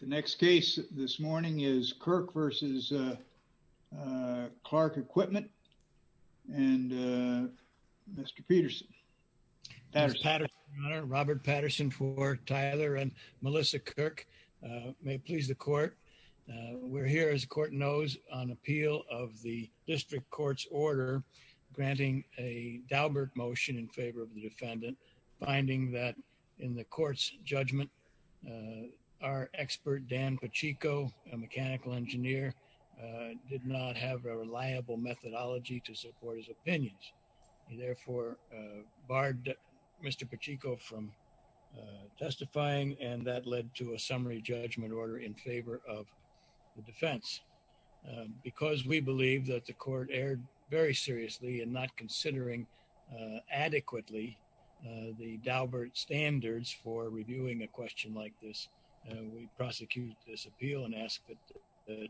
The next case this morning is Kirk v. Clark Equipment and Mr. Peterson. Mr. Patterson, Your Honor. Robert Patterson for Tyler and Melissa Kirk. May it please the Court. We're here, as the Court knows, on appeal of the District Court's order granting a Daubert motion in favor of the defendant, finding that in the Court's judgment, our expert Dan Pacheco, a mechanical engineer, did not have a reliable methodology to support his opinions. He therefore barred Mr. Pacheco from testifying, and that led to a summary judgment order in favor of the defense. Because we believe that the Court erred very seriously in not considering adequately the Daubert standards for reviewing a question like this. We prosecute this appeal and ask that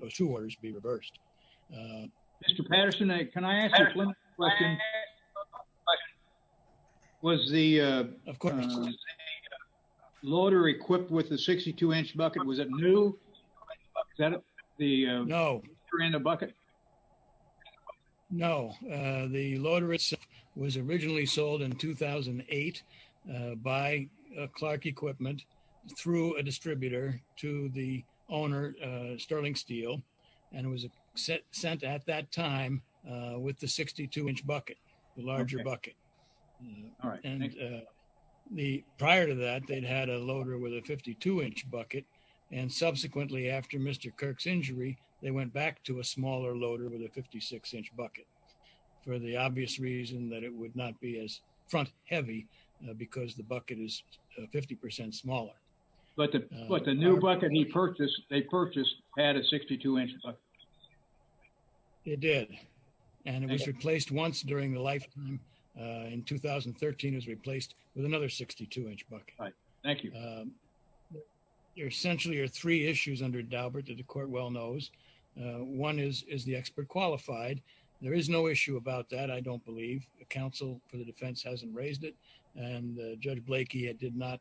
those two orders be reversed. Mr. Patterson, can I ask a question? Was the loader equipped with a 62-inch bucket? Was it new? No. Was No. The loader itself was originally sold in 2008 by Clark Equipment through a distributor to the owner, Sterling Steele, and it was sent at that time with the 62-inch bucket, the larger bucket. Prior to that, they'd had a loader with a 52-inch bucket, and subsequently after Mr. Kirk's injury, they went back to a smaller loader with a 56-inch bucket for the obvious reason that it would not be as front-heavy because the bucket is 50% smaller. But the new bucket they purchased had a 62-inch bucket. It did, and it was replaced once during the lifetime. In 2013, it was replaced with another 62-inch bucket. Thank you. There essentially are three issues under Daubert that the court well knows. One is, is the expert qualified? There is no issue about that, I don't believe. The counsel for the defense hasn't raised it, and Judge Blakey did not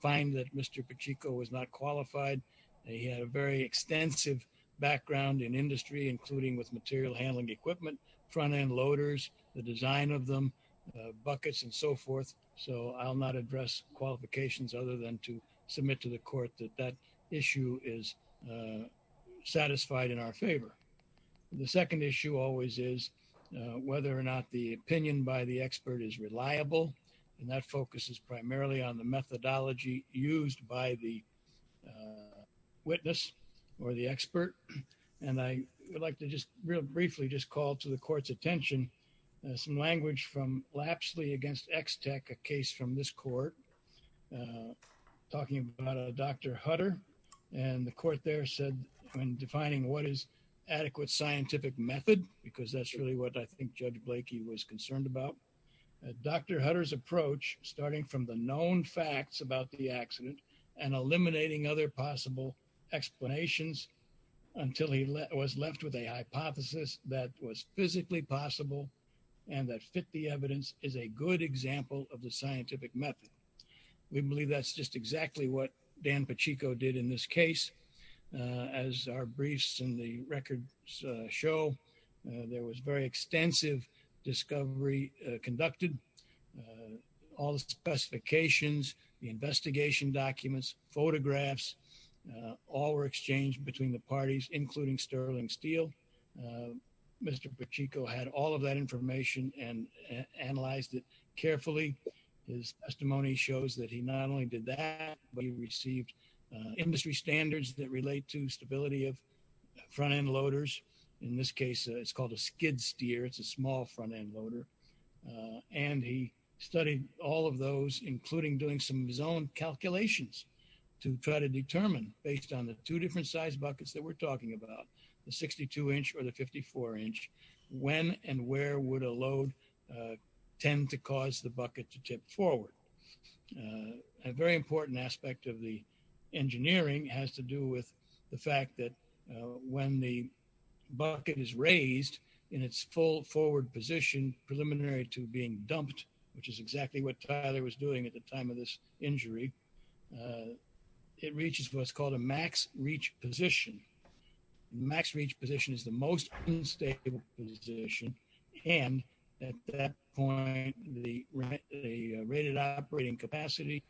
find that Mr. Pacheco was not qualified. He had a very extensive background in industry, including with material handling equipment, front-end loaders, the design of them, buckets, and so forth. So I'll not address qualifications other than to submit to the court that that issue is satisfied in our favor. The second issue always is whether or not the opinion by the expert is reliable, and that focuses primarily on the methodology used by the witness or the expert. And I would like to just real briefly just call to the court's attention some language from Lapsley v. Extec, a case from this court talking about Dr. Hutter. And the court there said, when defining what is adequate scientific method, because that's really what I think Judge Blakey was concerned about, Dr. Hutter's approach, starting from the known facts about the accident and eliminating other possible explanations until he was left with a hypothesis that was physically possible and that fit the evidence is a good example of the scientific method. We believe that's just exactly what Dan Pacheco did in this case. As our briefs and the records show, there was very extensive discovery conducted. All the specifications, the investigation documents, photographs, all were exchanged between the parties, including Sterling Steele. Mr. Pacheco had all of that analyzed it carefully. His testimony shows that he not only did that, but he received industry standards that relate to stability of front-end loaders. In this case, it's called a skid steer. It's a small front-end loader. And he studied all of those, including doing some zone calculations to try to determine, based on the two different size buckets that we're talking about, the 62-inch or the 54-inch, when and where would a load tend to cause the bucket to tip forward. A very important aspect of the engineering has to do with the fact that when the bucket is raised in its full forward position, preliminary to being dumped, which is exactly what Tyler was at the time of this injury, it reaches what's called a max reach position. Max reach position is the most unstable position. And at that point, the rated operating capacity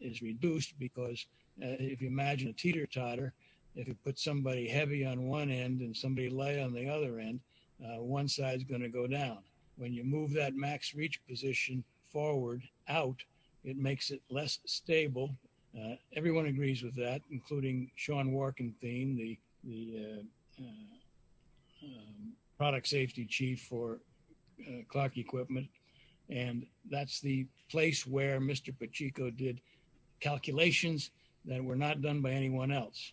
is reduced because if you imagine a teeter-totter, if you put somebody heavy on one end and somebody light on the other end, one side is going to go down. When you move that max reach position forward out, it makes it less stable. Everyone agrees with that, including Sean Warkenthien, the product safety chief for Clark Equipment. And that's the place where Mr. Pacheco did calculations that were not done by anyone else.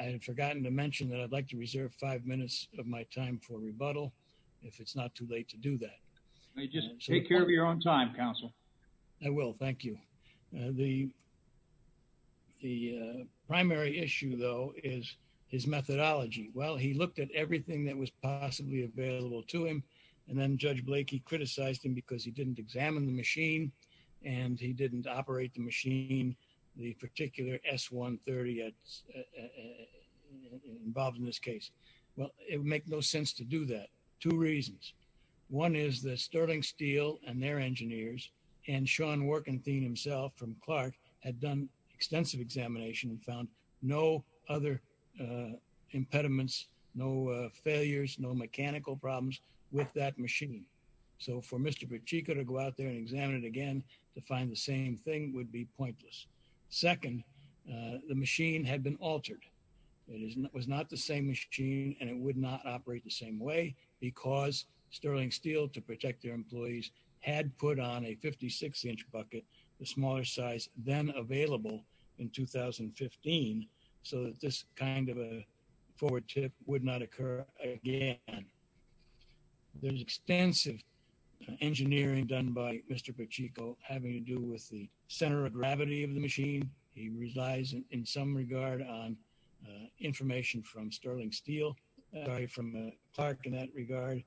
I had forgotten to mention that I'd like to reserve five minutes of my time for rebuttal if it's not too late to do that. Just take care of your own time, counsel. I will. Thank you. The primary issue, though, is his methodology. Well, he looked at everything that was possibly available to him. And then Judge Blakey criticized him because he didn't examine the machine and he didn't operate the machine, the particular S-130 involved in this case. Well, it would make no sense to do that. Two reasons. One is that Sterling Steel and their engineers and Sean Warkenthien himself from Clark had done extensive examination and found no other impediments, no failures, no mechanical problems with that machine. So for Mr. Pacheco to go out there and examine it again to find the same thing would be pointless. Second, the machine had been altered. It was not the same machine and it would not operate the same way because Sterling Steel, to protect their employees, had put on a 56-inch bucket, the smaller size then available in 2015, so that this kind of a forward tip would not occur again. There's extensive engineering done by Mr. Pacheco having to do with the center of gravity of the machine. It relies in some regard on information from Sterling Steel, sorry, from Clark in that regard.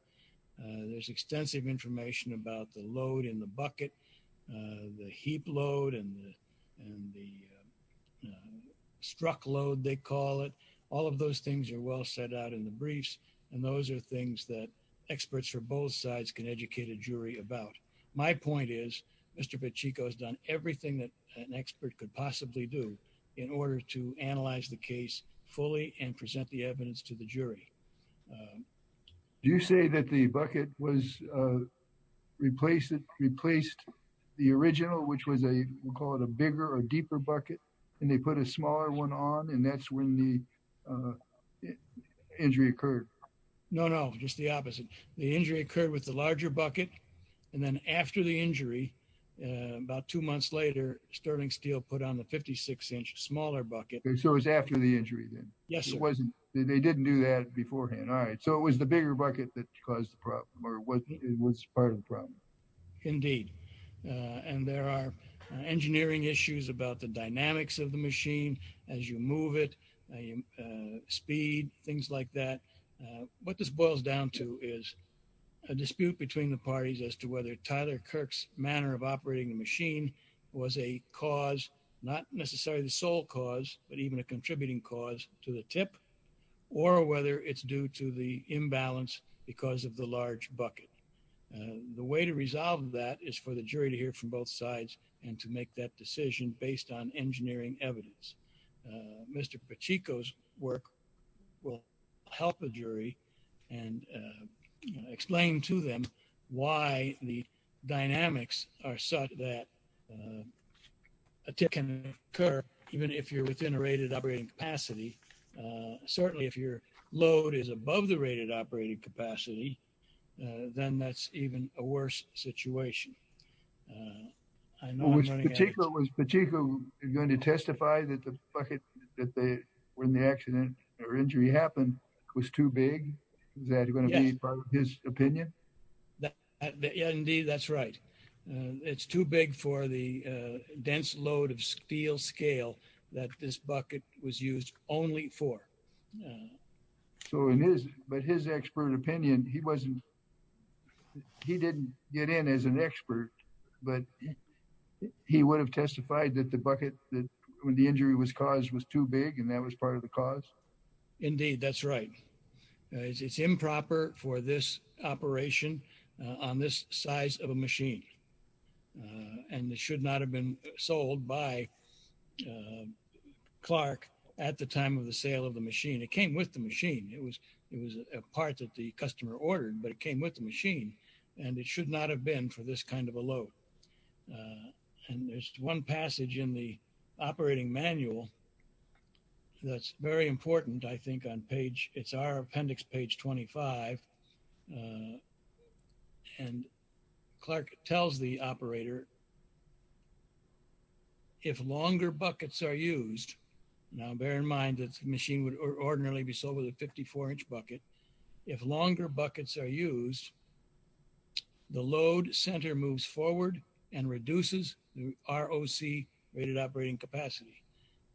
There's extensive information about the load in the bucket, the heap load and the struck load, they call it. All of those things are well set out in the briefs. And those are things that experts from both sides can educate a jury about. My point is, Mr. Pacheco has done everything that an expert could possibly do in order to analyze the case fully and present the evidence to the jury. Do you say that the bucket was replaced the original, which was a, we'll call it a bigger or deeper bucket, and they put a smaller one on and that's when the injury occurred? No, no, just the opposite. The injury occurred with the larger bucket and then after the injury, about two months later, Sterling Steel put on the 56-inch smaller bucket. So it was after the injury then? Yes. It wasn't, they didn't do that beforehand. All right, so it was the bigger bucket that caused the problem or was part of the problem? Indeed, and there are engineering issues about the dynamics of the machine as you move it, speed, things like that. What this boils down to is a dispute between the parties as to whether Tyler Kirk's manner of operating the machine was a cause, not necessarily the sole cause, but even a contributing cause to the tip or whether it's due to the imbalance because of the large bucket. The way to resolve that is for the jury to hear from both sides and to make that decision based on and explain to them why the dynamics are such that a tip can occur even if you're within a rated operating capacity. Certainly, if your load is above the rated operating capacity, then that's even a worse situation. Was Pacheco going to testify that the bucket that they were in the accident or injury happened was too big? Is that going to be his opinion? Indeed, that's right. It's too big for the dense load of steel scale that this bucket was used only for. So in his, but his expert opinion, he wasn't, he didn't get in as an expert, but he would have testified that the bucket that when the injury was caused was too big and that was part of the cause. Indeed, that's right. It's improper for this operation on this size of a machine and it should not have been sold by Clark at the time of the sale of the machine. It came with the machine. It was, it was a part that the customer ordered, but it came with the machine and it should not have been for this kind of a load. And there's one passage in the operating manual that's very important. I think on page, it's our appendix, page 25, and Clark tells the operator, if longer buckets are used, now bear in mind that the machine would ordinarily be sold with a 54 inch bucket. If longer buckets are used, the load center moves forward and reduces the ROC rated operating capacity.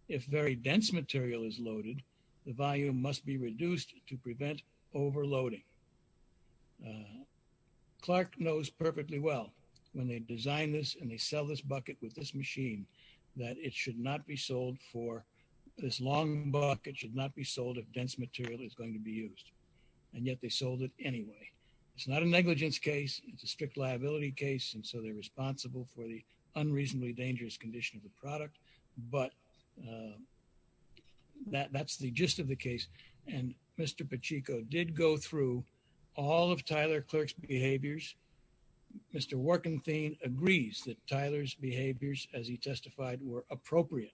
If very dense material is loaded, the volume must be reduced to prevent overloading. Clark knows perfectly well when they design this and they sell this bucket with this machine, that it should not be sold for this long buck. It should not be sold if dense material is going to be used. And yet they sold it anyway. It's not a negligence case. It's a strict liability case. And so they're responsible for the unreasonably dangerous condition of the product. But that's the gist of the case. And Mr. Pacheco did go through all of Tyler Clark's behaviors. Mr. Workenthien agrees that Tyler's behaviors, as he testified, were appropriate.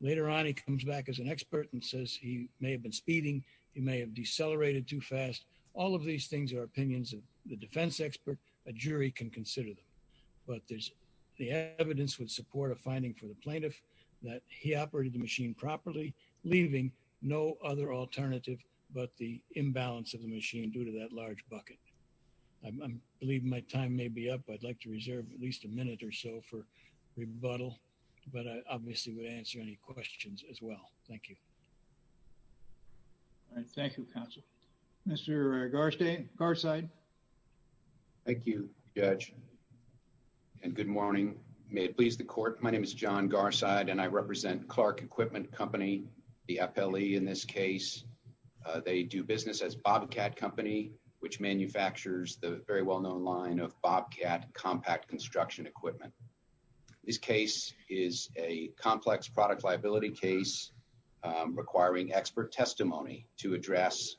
Later on, he comes back as an expert and says he may have been speeding, he may have decelerated too fast. All of these things are opinions of the defense expert, a jury can consider them. But there's the evidence with support of finding for the plaintiff that he operated the machine properly, leaving no other alternative but the imbalance of the machine due to that large bucket. I believe my time may be up. I'd like to reserve at least a minute or so for rebuttal. But I obviously would answer any questions as well. Thank you. All right. Thank you, counsel. Mr. Garside. Thank you, Judge. And good morning. May it please the court. My name is John Garside, and I represent Clark Equipment Company, the FLE in this case. They do business as Bobcat Company, which manufactures the very well-known line of Bobcat compact construction equipment. This case is a complex product liability case requiring expert testimony to address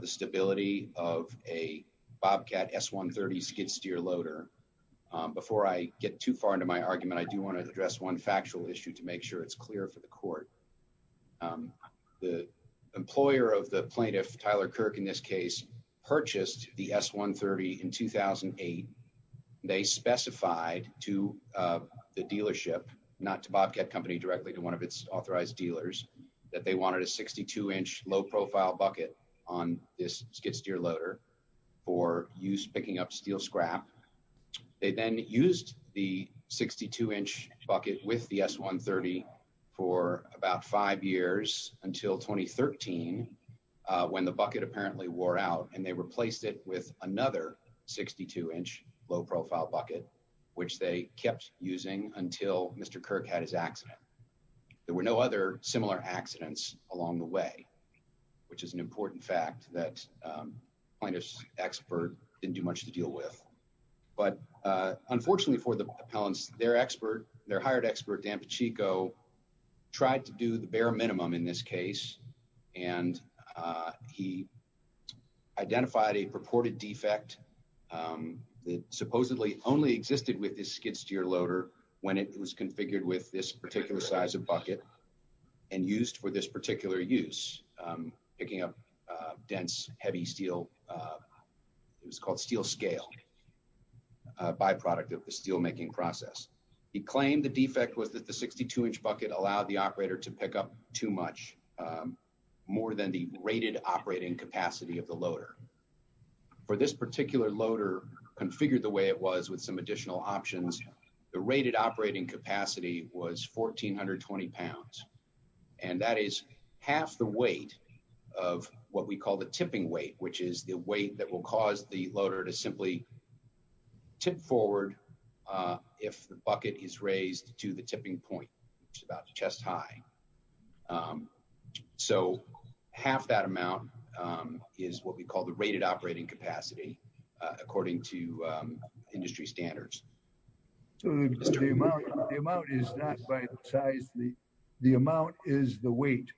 the stability of a Bobcat S-130 skid steer loader. Before I get too far into my argument, I do want to address one factual issue to make sure it's clear for the court. The employer of the plaintiff, Tyler Kirk, in this case, purchased the S-130 in 2008. They specified to the dealership, not to Bobcat Company directly, to one of its authorized dealers, that they wanted a 62-inch low-profile bucket on this skid steer loader for use picking up steel scrap. They then used the 62-inch bucket with the S-130 for about five years until 2013, when the bucket apparently wore out, and they replaced it with another 62-inch low-profile bucket, which they kept using until Mr. Kirk had his accident. There were no other similar accidents along the way, which is an important fact that the plaintiff's expert didn't do much to deal with. But unfortunately for the appellants, their hired expert, Dan Pacheco, tried to do the bare minimum in this case, and he identified a purported defect that supposedly only existed with this skid steer loader when it was configured with this particular size of bucket and used for this particular use, picking up dense, heavy steel. It was called steel scale, a byproduct of the steel making process. He claimed the defect was that the 62-inch bucket allowed the operator to pick up too much, more than the rated operating capacity of the loader. For this particular loader, configured the way it was with some additional options, the rated operating capacity was 1420 pounds, and that is half the weight of what we call tipping weight, which is the weight that will cause the loader to simply tip forward if the bucket is raised to the tipping point, which is about chest high. So half that amount is what we call the rated operating capacity, according to industry standards. So the amount is not by the size, the amount is the weight?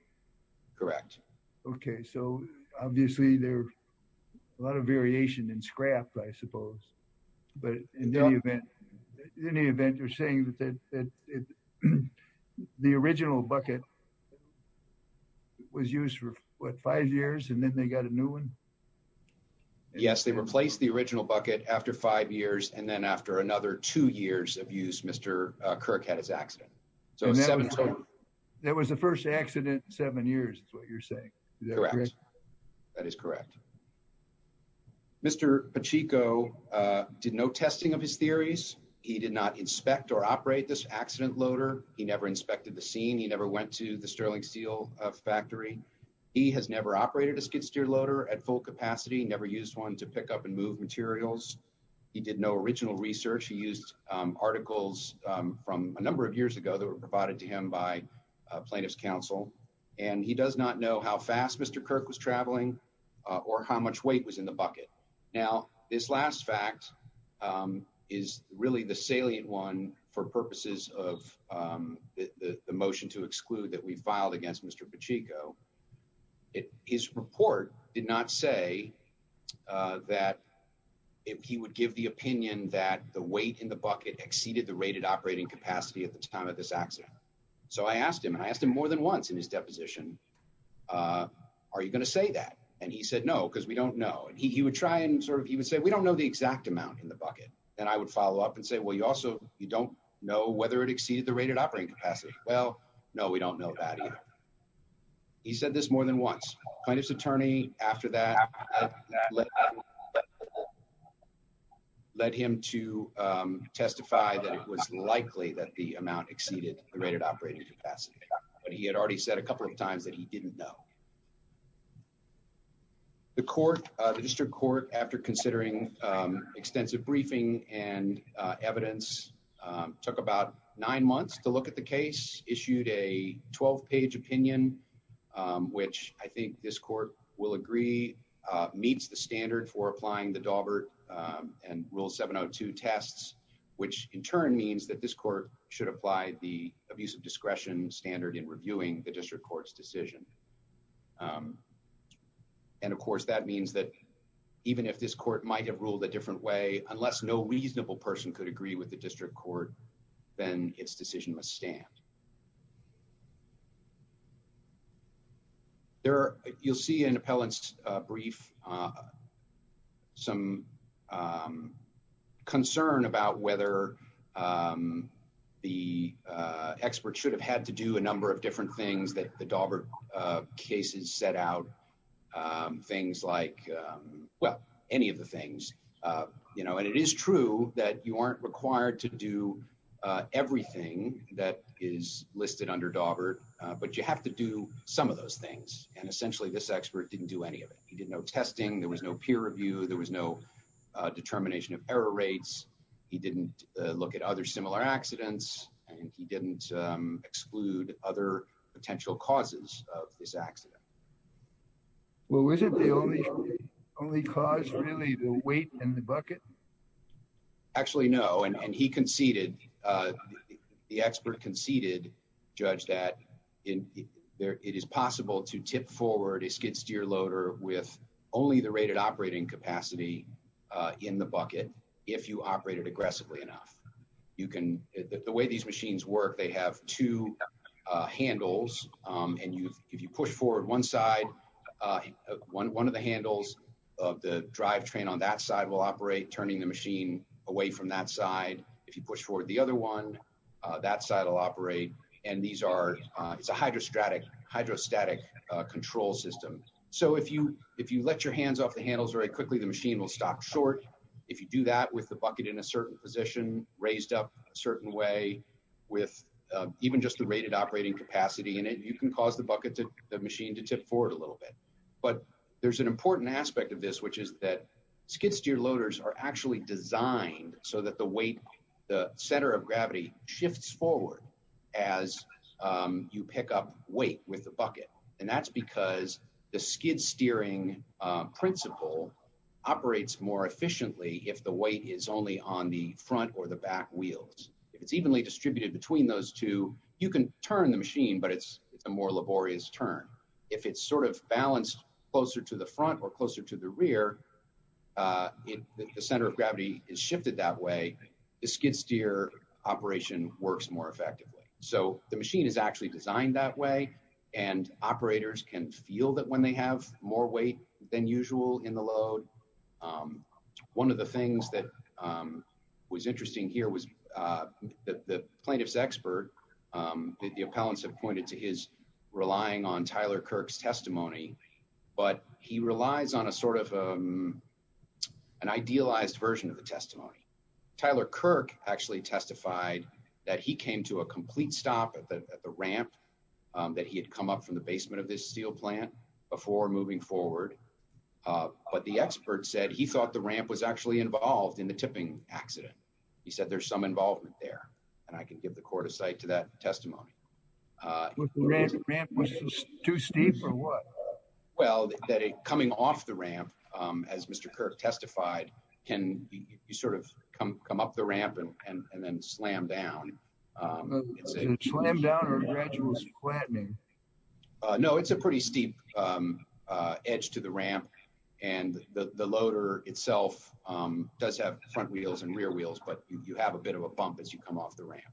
Correct. Okay, so obviously there's a lot of variation in scrap, I suppose, but in any event, you're saying that the original bucket was used for what, five years, and then they got a new one? Yes, they replaced the original bucket after five years, and then after another two years of use, Mr. Kirk had his accident. So seven total. That was the first accident in seven years, is what you're saying? Correct, that is correct. Mr. Pacheco did no testing of his theories. He did not inspect or operate this accident loader. He never inspected the scene. He never went to Sterling Steel factory. He has never operated a skid-steer loader at full capacity, never used one to pick up and move materials. He did no original research. He used articles from a number of years ago that were provided to him by plaintiff's counsel, and he does not know how fast Mr. Kirk was traveling or how much weight was in the bucket. Now, this last fact is really the salient one for purposes of the motion to exclude that we filed against Mr. Pacheco. His report did not say that he would give the opinion that the weight in the bucket exceeded the rated operating capacity at the time of this accident. So I asked him, and I asked him more than once in his deposition, are you going to say that? And he said, no, because we don't know. And he would try and sort of, he would say, we don't know the exact amount in the bucket. And I would follow up and say, well, you also, you don't know whether it exceeded the rated operating capacity. Well, no, we don't know that either. He said this more than once. Plaintiff's attorney after that led him to testify that it was likely that the amount exceeded the rated operating capacity, but he had already said a couple of times that he didn't know. The court, the district court, after considering extensive briefing and evidence, took about nine months to look at the case, issued a 12-page opinion, which I think this court will agree meets the standard for applying the Daubert and Rule 702 tests, which in turn means that this court should apply the abuse of discretion standard in reviewing the district court's decision. And of course, that means that even if this court might have ruled a different way, unless no reasonable person could agree with the district court, then its decision must stand. There, you'll see an appellant's brief, some concern about whether the expert should have had to do a number of different things that the Daubert cases set out, things like, well, any of the things, you know, and it is true that you aren't required to do everything that is listed under Daubert, but you have to do some of those things. And essentially, this expert didn't do any of it. He did no testing. There was no peer review. There was no look at other similar accidents, and he didn't exclude other potential causes of this accident. Well, was it the only cause, really, the weight in the bucket? Actually, no. And he conceded, the expert conceded, Judge, that it is possible to tip forward a skid-steer loader with only the rated operating capacity in the bucket, if you operate it aggressively enough. You can, the way these machines work, they have two handles, and if you push forward one side, one of the handles of the drive train on that side will operate, turning the machine away from that side. If you push forward the other one, that side will operate, and these are, it's a hydrostatic control system. So if you let your the bucket in a certain position, raised up a certain way, with even just the rated operating capacity in it, you can cause the bucket to, the machine to tip forward a little bit. But there's an important aspect of this, which is that skid-steer loaders are actually designed so that the weight, the center of gravity shifts forward as you pick up weight with the bucket. And that's because the skid-steering principle operates more efficiently if the weight is only on the front or the back wheels. If it's evenly distributed between those two, you can turn the machine, but it's a more laborious turn. If it's sort of balanced closer to the front or closer to the rear, if the center of gravity is shifted that way, the skid-steer operation works more efficiently. Operators can feel that when they have more weight than usual in the load. One of the things that was interesting here was that the plaintiff's expert, the appellants have pointed to his relying on Tyler Kirk's testimony, but he relies on a sort of an idealized version of the testimony. Tyler Kirk actually testified that he came to a complete stop at the ramp that he had come up from the basement of this steel plant before moving forward. But the expert said he thought the ramp was actually involved in the tipping accident. He said there's some involvement there, and I can give the court a site to that testimony. Was the ramp too steep or what? Well, that coming off the ramp, as Mr. Kirk testified, can you sort of come up the ramp and then slam down? Slam down or gradual flattening? No, it's a pretty steep edge to the ramp, and the loader itself does have front wheels and rear wheels, but you have a bit of a bump as you come off the ramp.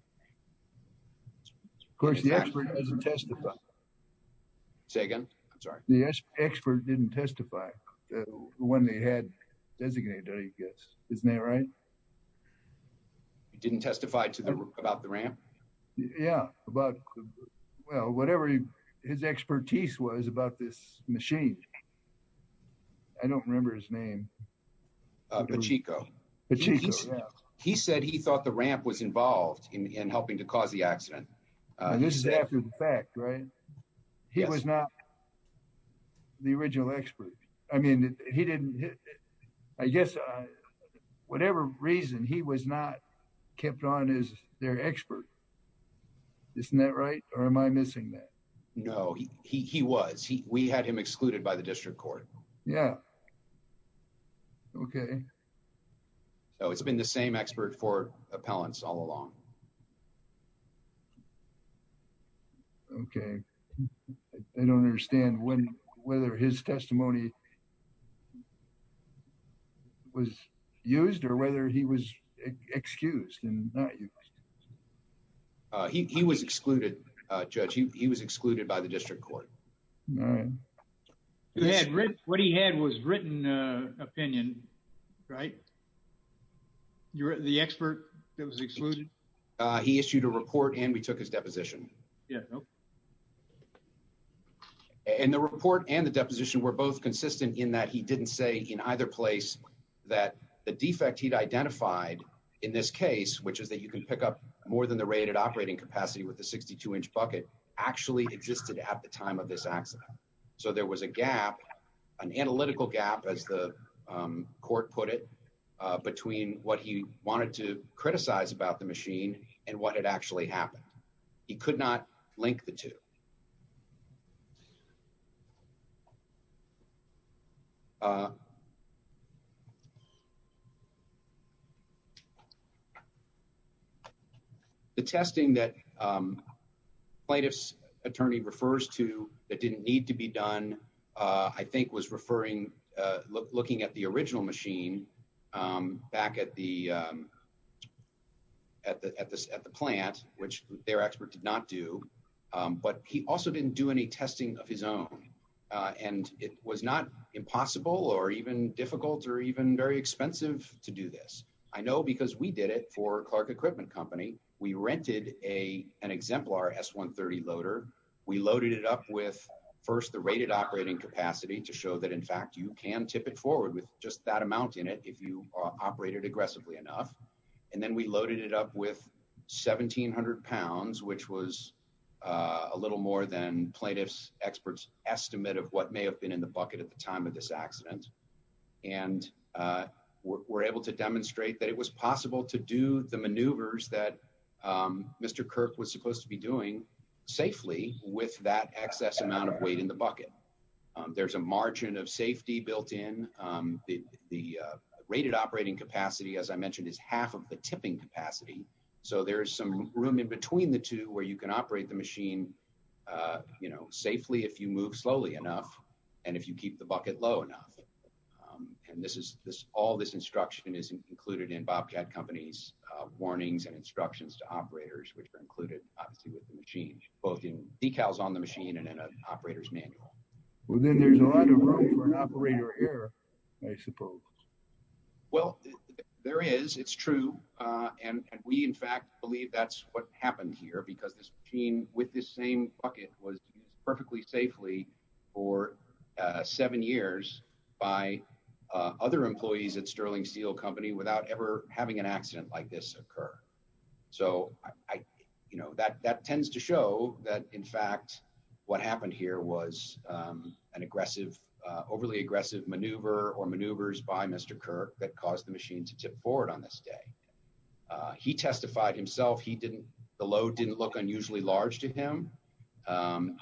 Of course, the expert doesn't testify. Say again, I'm sorry. The expert didn't testify when they had designated it, I guess. Isn't that right? He didn't testify about the ramp? Yeah, about, well, whatever his expertise was about this machine. I don't remember his name. Pachinko. Pachinko, yeah. He said he thought the ramp was involved in helping to cause the accident. I guess whatever reason, he was not kept on as their expert. Isn't that right, or am I missing that? No, he was. We had him excluded by the district court. Yeah, okay. It's been the same expert for appellants all along. Okay, I don't understand whether his testimony was used or whether he was excused and not used. He was excluded, Judge. He was excluded by the district court. All right. What he had was written opinion, right? You're the expert that was he issued a report and we took his deposition. Yeah. And the report and the deposition were both consistent in that he didn't say in either place that the defect he'd identified in this case, which is that you can pick up more than the rated operating capacity with the 62 inch bucket actually existed at the time of this accident. So there was a gap, an analytical gap as the court put it between what he wanted to and what had actually happened. He could not link the two. The testing that plaintiff's attorney refers to that didn't need to be done, I think was referring, looking at the original machine back at the plant, which their expert did not do. But he also didn't do any testing of his own and it was not impossible or even difficult or even very expensive to do this. I know because we did it for Clark Equipment Company. We rented an exemplar S-130 loader. We loaded it up with first the rated operating capacity to show that in fact you can tip it forward with just that amount in it if you operated aggressively enough. And then we loaded it up with 1700 pounds, which was a little more than plaintiff's expert's estimate of what may have been in the bucket at the time of this accident. And we're able to demonstrate that it was possible to do the maneuvers that Mr. Kirk was supposed to be doing safely with that excess amount of weight in the bucket. There's a margin of safety built in. The rated operating capacity, as I mentioned, is half of the tipping capacity. So there's some room in between the two where you can operate the machine safely if you move slowly enough and if you keep the bucket low enough. And all this instruction is included in Bobcat Company's warnings and instructions to operators, which are included obviously with the machine, both in decals on the machine and in an operator error, I suppose. Well, there is. It's true. And we in fact believe that's what happened here because this machine with this same bucket was used perfectly safely for seven years by other employees at Sterling Steel Company without ever having an accident like this occur. So, you know, that tends to show that in fact what happened here was an aggressive, overly aggressive maneuver or maneuvers by Mr. Kirk that caused the machine to tip forward on this day. He testified himself, the load didn't look unusually large to him.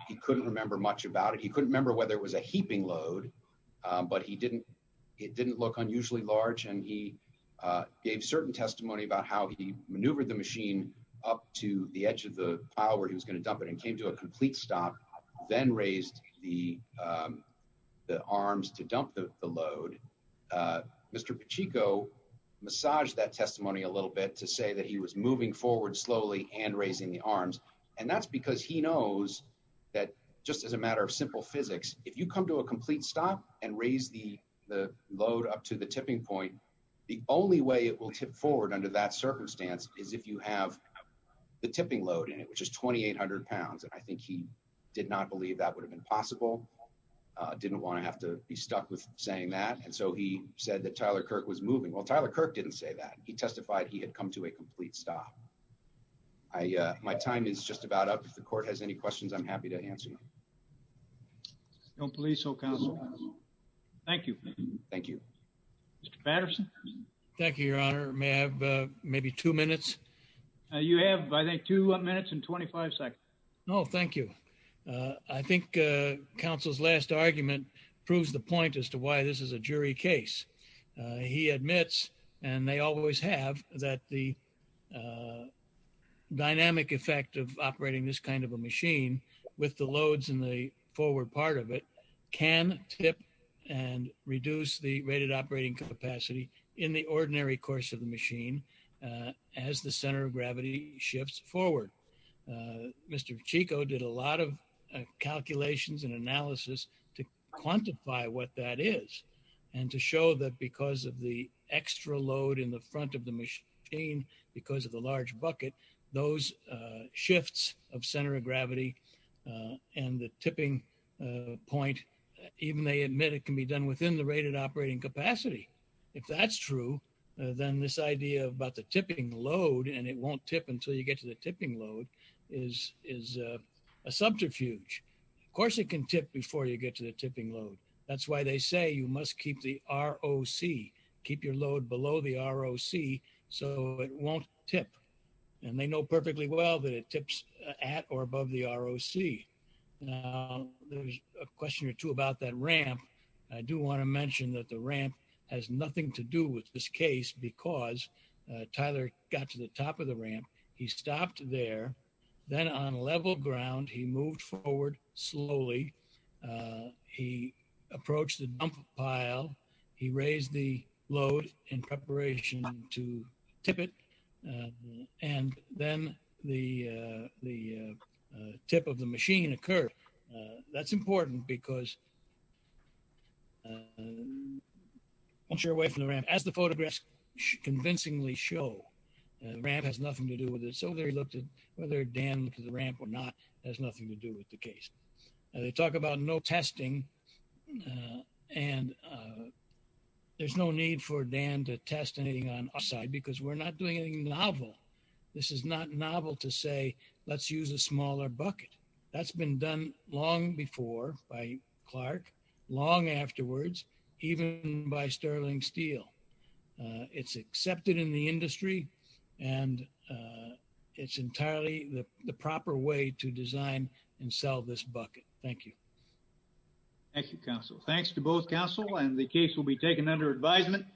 He couldn't remember much about it. He couldn't remember whether it was a heaping load, but it didn't look unusually large. And he gave certain testimony about how he maneuvered the machine up to the edge of the pile where he was going to dump it and came to a complete stop, then raised the arms to dump the load. Mr. Pacheco massaged that testimony a little bit to say that he was moving forward slowly and raising the arms. And that's because he knows that just as a matter of simple physics, if you come to a complete stop and raise the load up to tipping point, the only way it will tip forward under that circumstance is if you have the tipping load in it, which is 2,800 pounds. And I think he did not believe that would have been possible. Didn't want to have to be stuck with saying that. And so he said that Tyler Kirk was moving. Well, Tyler Kirk didn't say that. He testified he had come to a complete stop. My time is just about up. If the court has any questions, I'm happy to answer them. Don't police. Oh, come on. Thank you. Thank you, Mr Patterson. Thank you, Your Honor. May have maybe two minutes. You have, I think, two minutes and 25 seconds. No, thank you. I think counsel's last argument proves the point as to why this is a jury case. He admits, and they always have, that the dynamic effect of operating this kind of a machine with the loads in the forward part of it can tip and reduce the rated operating capacity in the ordinary course of the machine as the center of gravity shifts forward. Mr. Chico did a lot of calculations and analysis to quantify what that is and to show that because of the extra load in the front of the machine, because of the large bucket, those shifts of center of gravity and the tipping point, even they admit it can be done within the rated operating capacity. If that's true, then this idea about the tipping load, and it won't tip until you get to the tipping load, is a subterfuge. Of course, it can tip before you get to the tipping load. That's why they say you must keep the ROC. Keep your load below the ROC so it won't tip. And they know perfectly well that it tips at or above the ROC. Now, there's a question or two about that ramp. I do want to mention that the ramp has nothing to do with this case because Tyler got to the top of the ramp. He stopped there. Then on level ground, he moved forward slowly. He approached the dump pile. He raised the load in preparation to tip it. And then the tip of the machine occurred. That's important because once you're away from the ramp, as the photographs convincingly show, the ramp has nothing to do with it. So they looked at whether Dan looked at the ramp or not. It has nothing to do with the case. They talk about no testing. And there's no need for Dan to test anything on our side because we're not doing anything novel. This is not novel to say, let's use a smaller bucket. That's been done long before by Clark, long afterwards, even by Sterling Steel. It's accepted in the industry and it's entirely the proper way to design and sell this bucket. Thank you. Thank you, counsel. Thanks to both counsel and the case will be taken under advisement.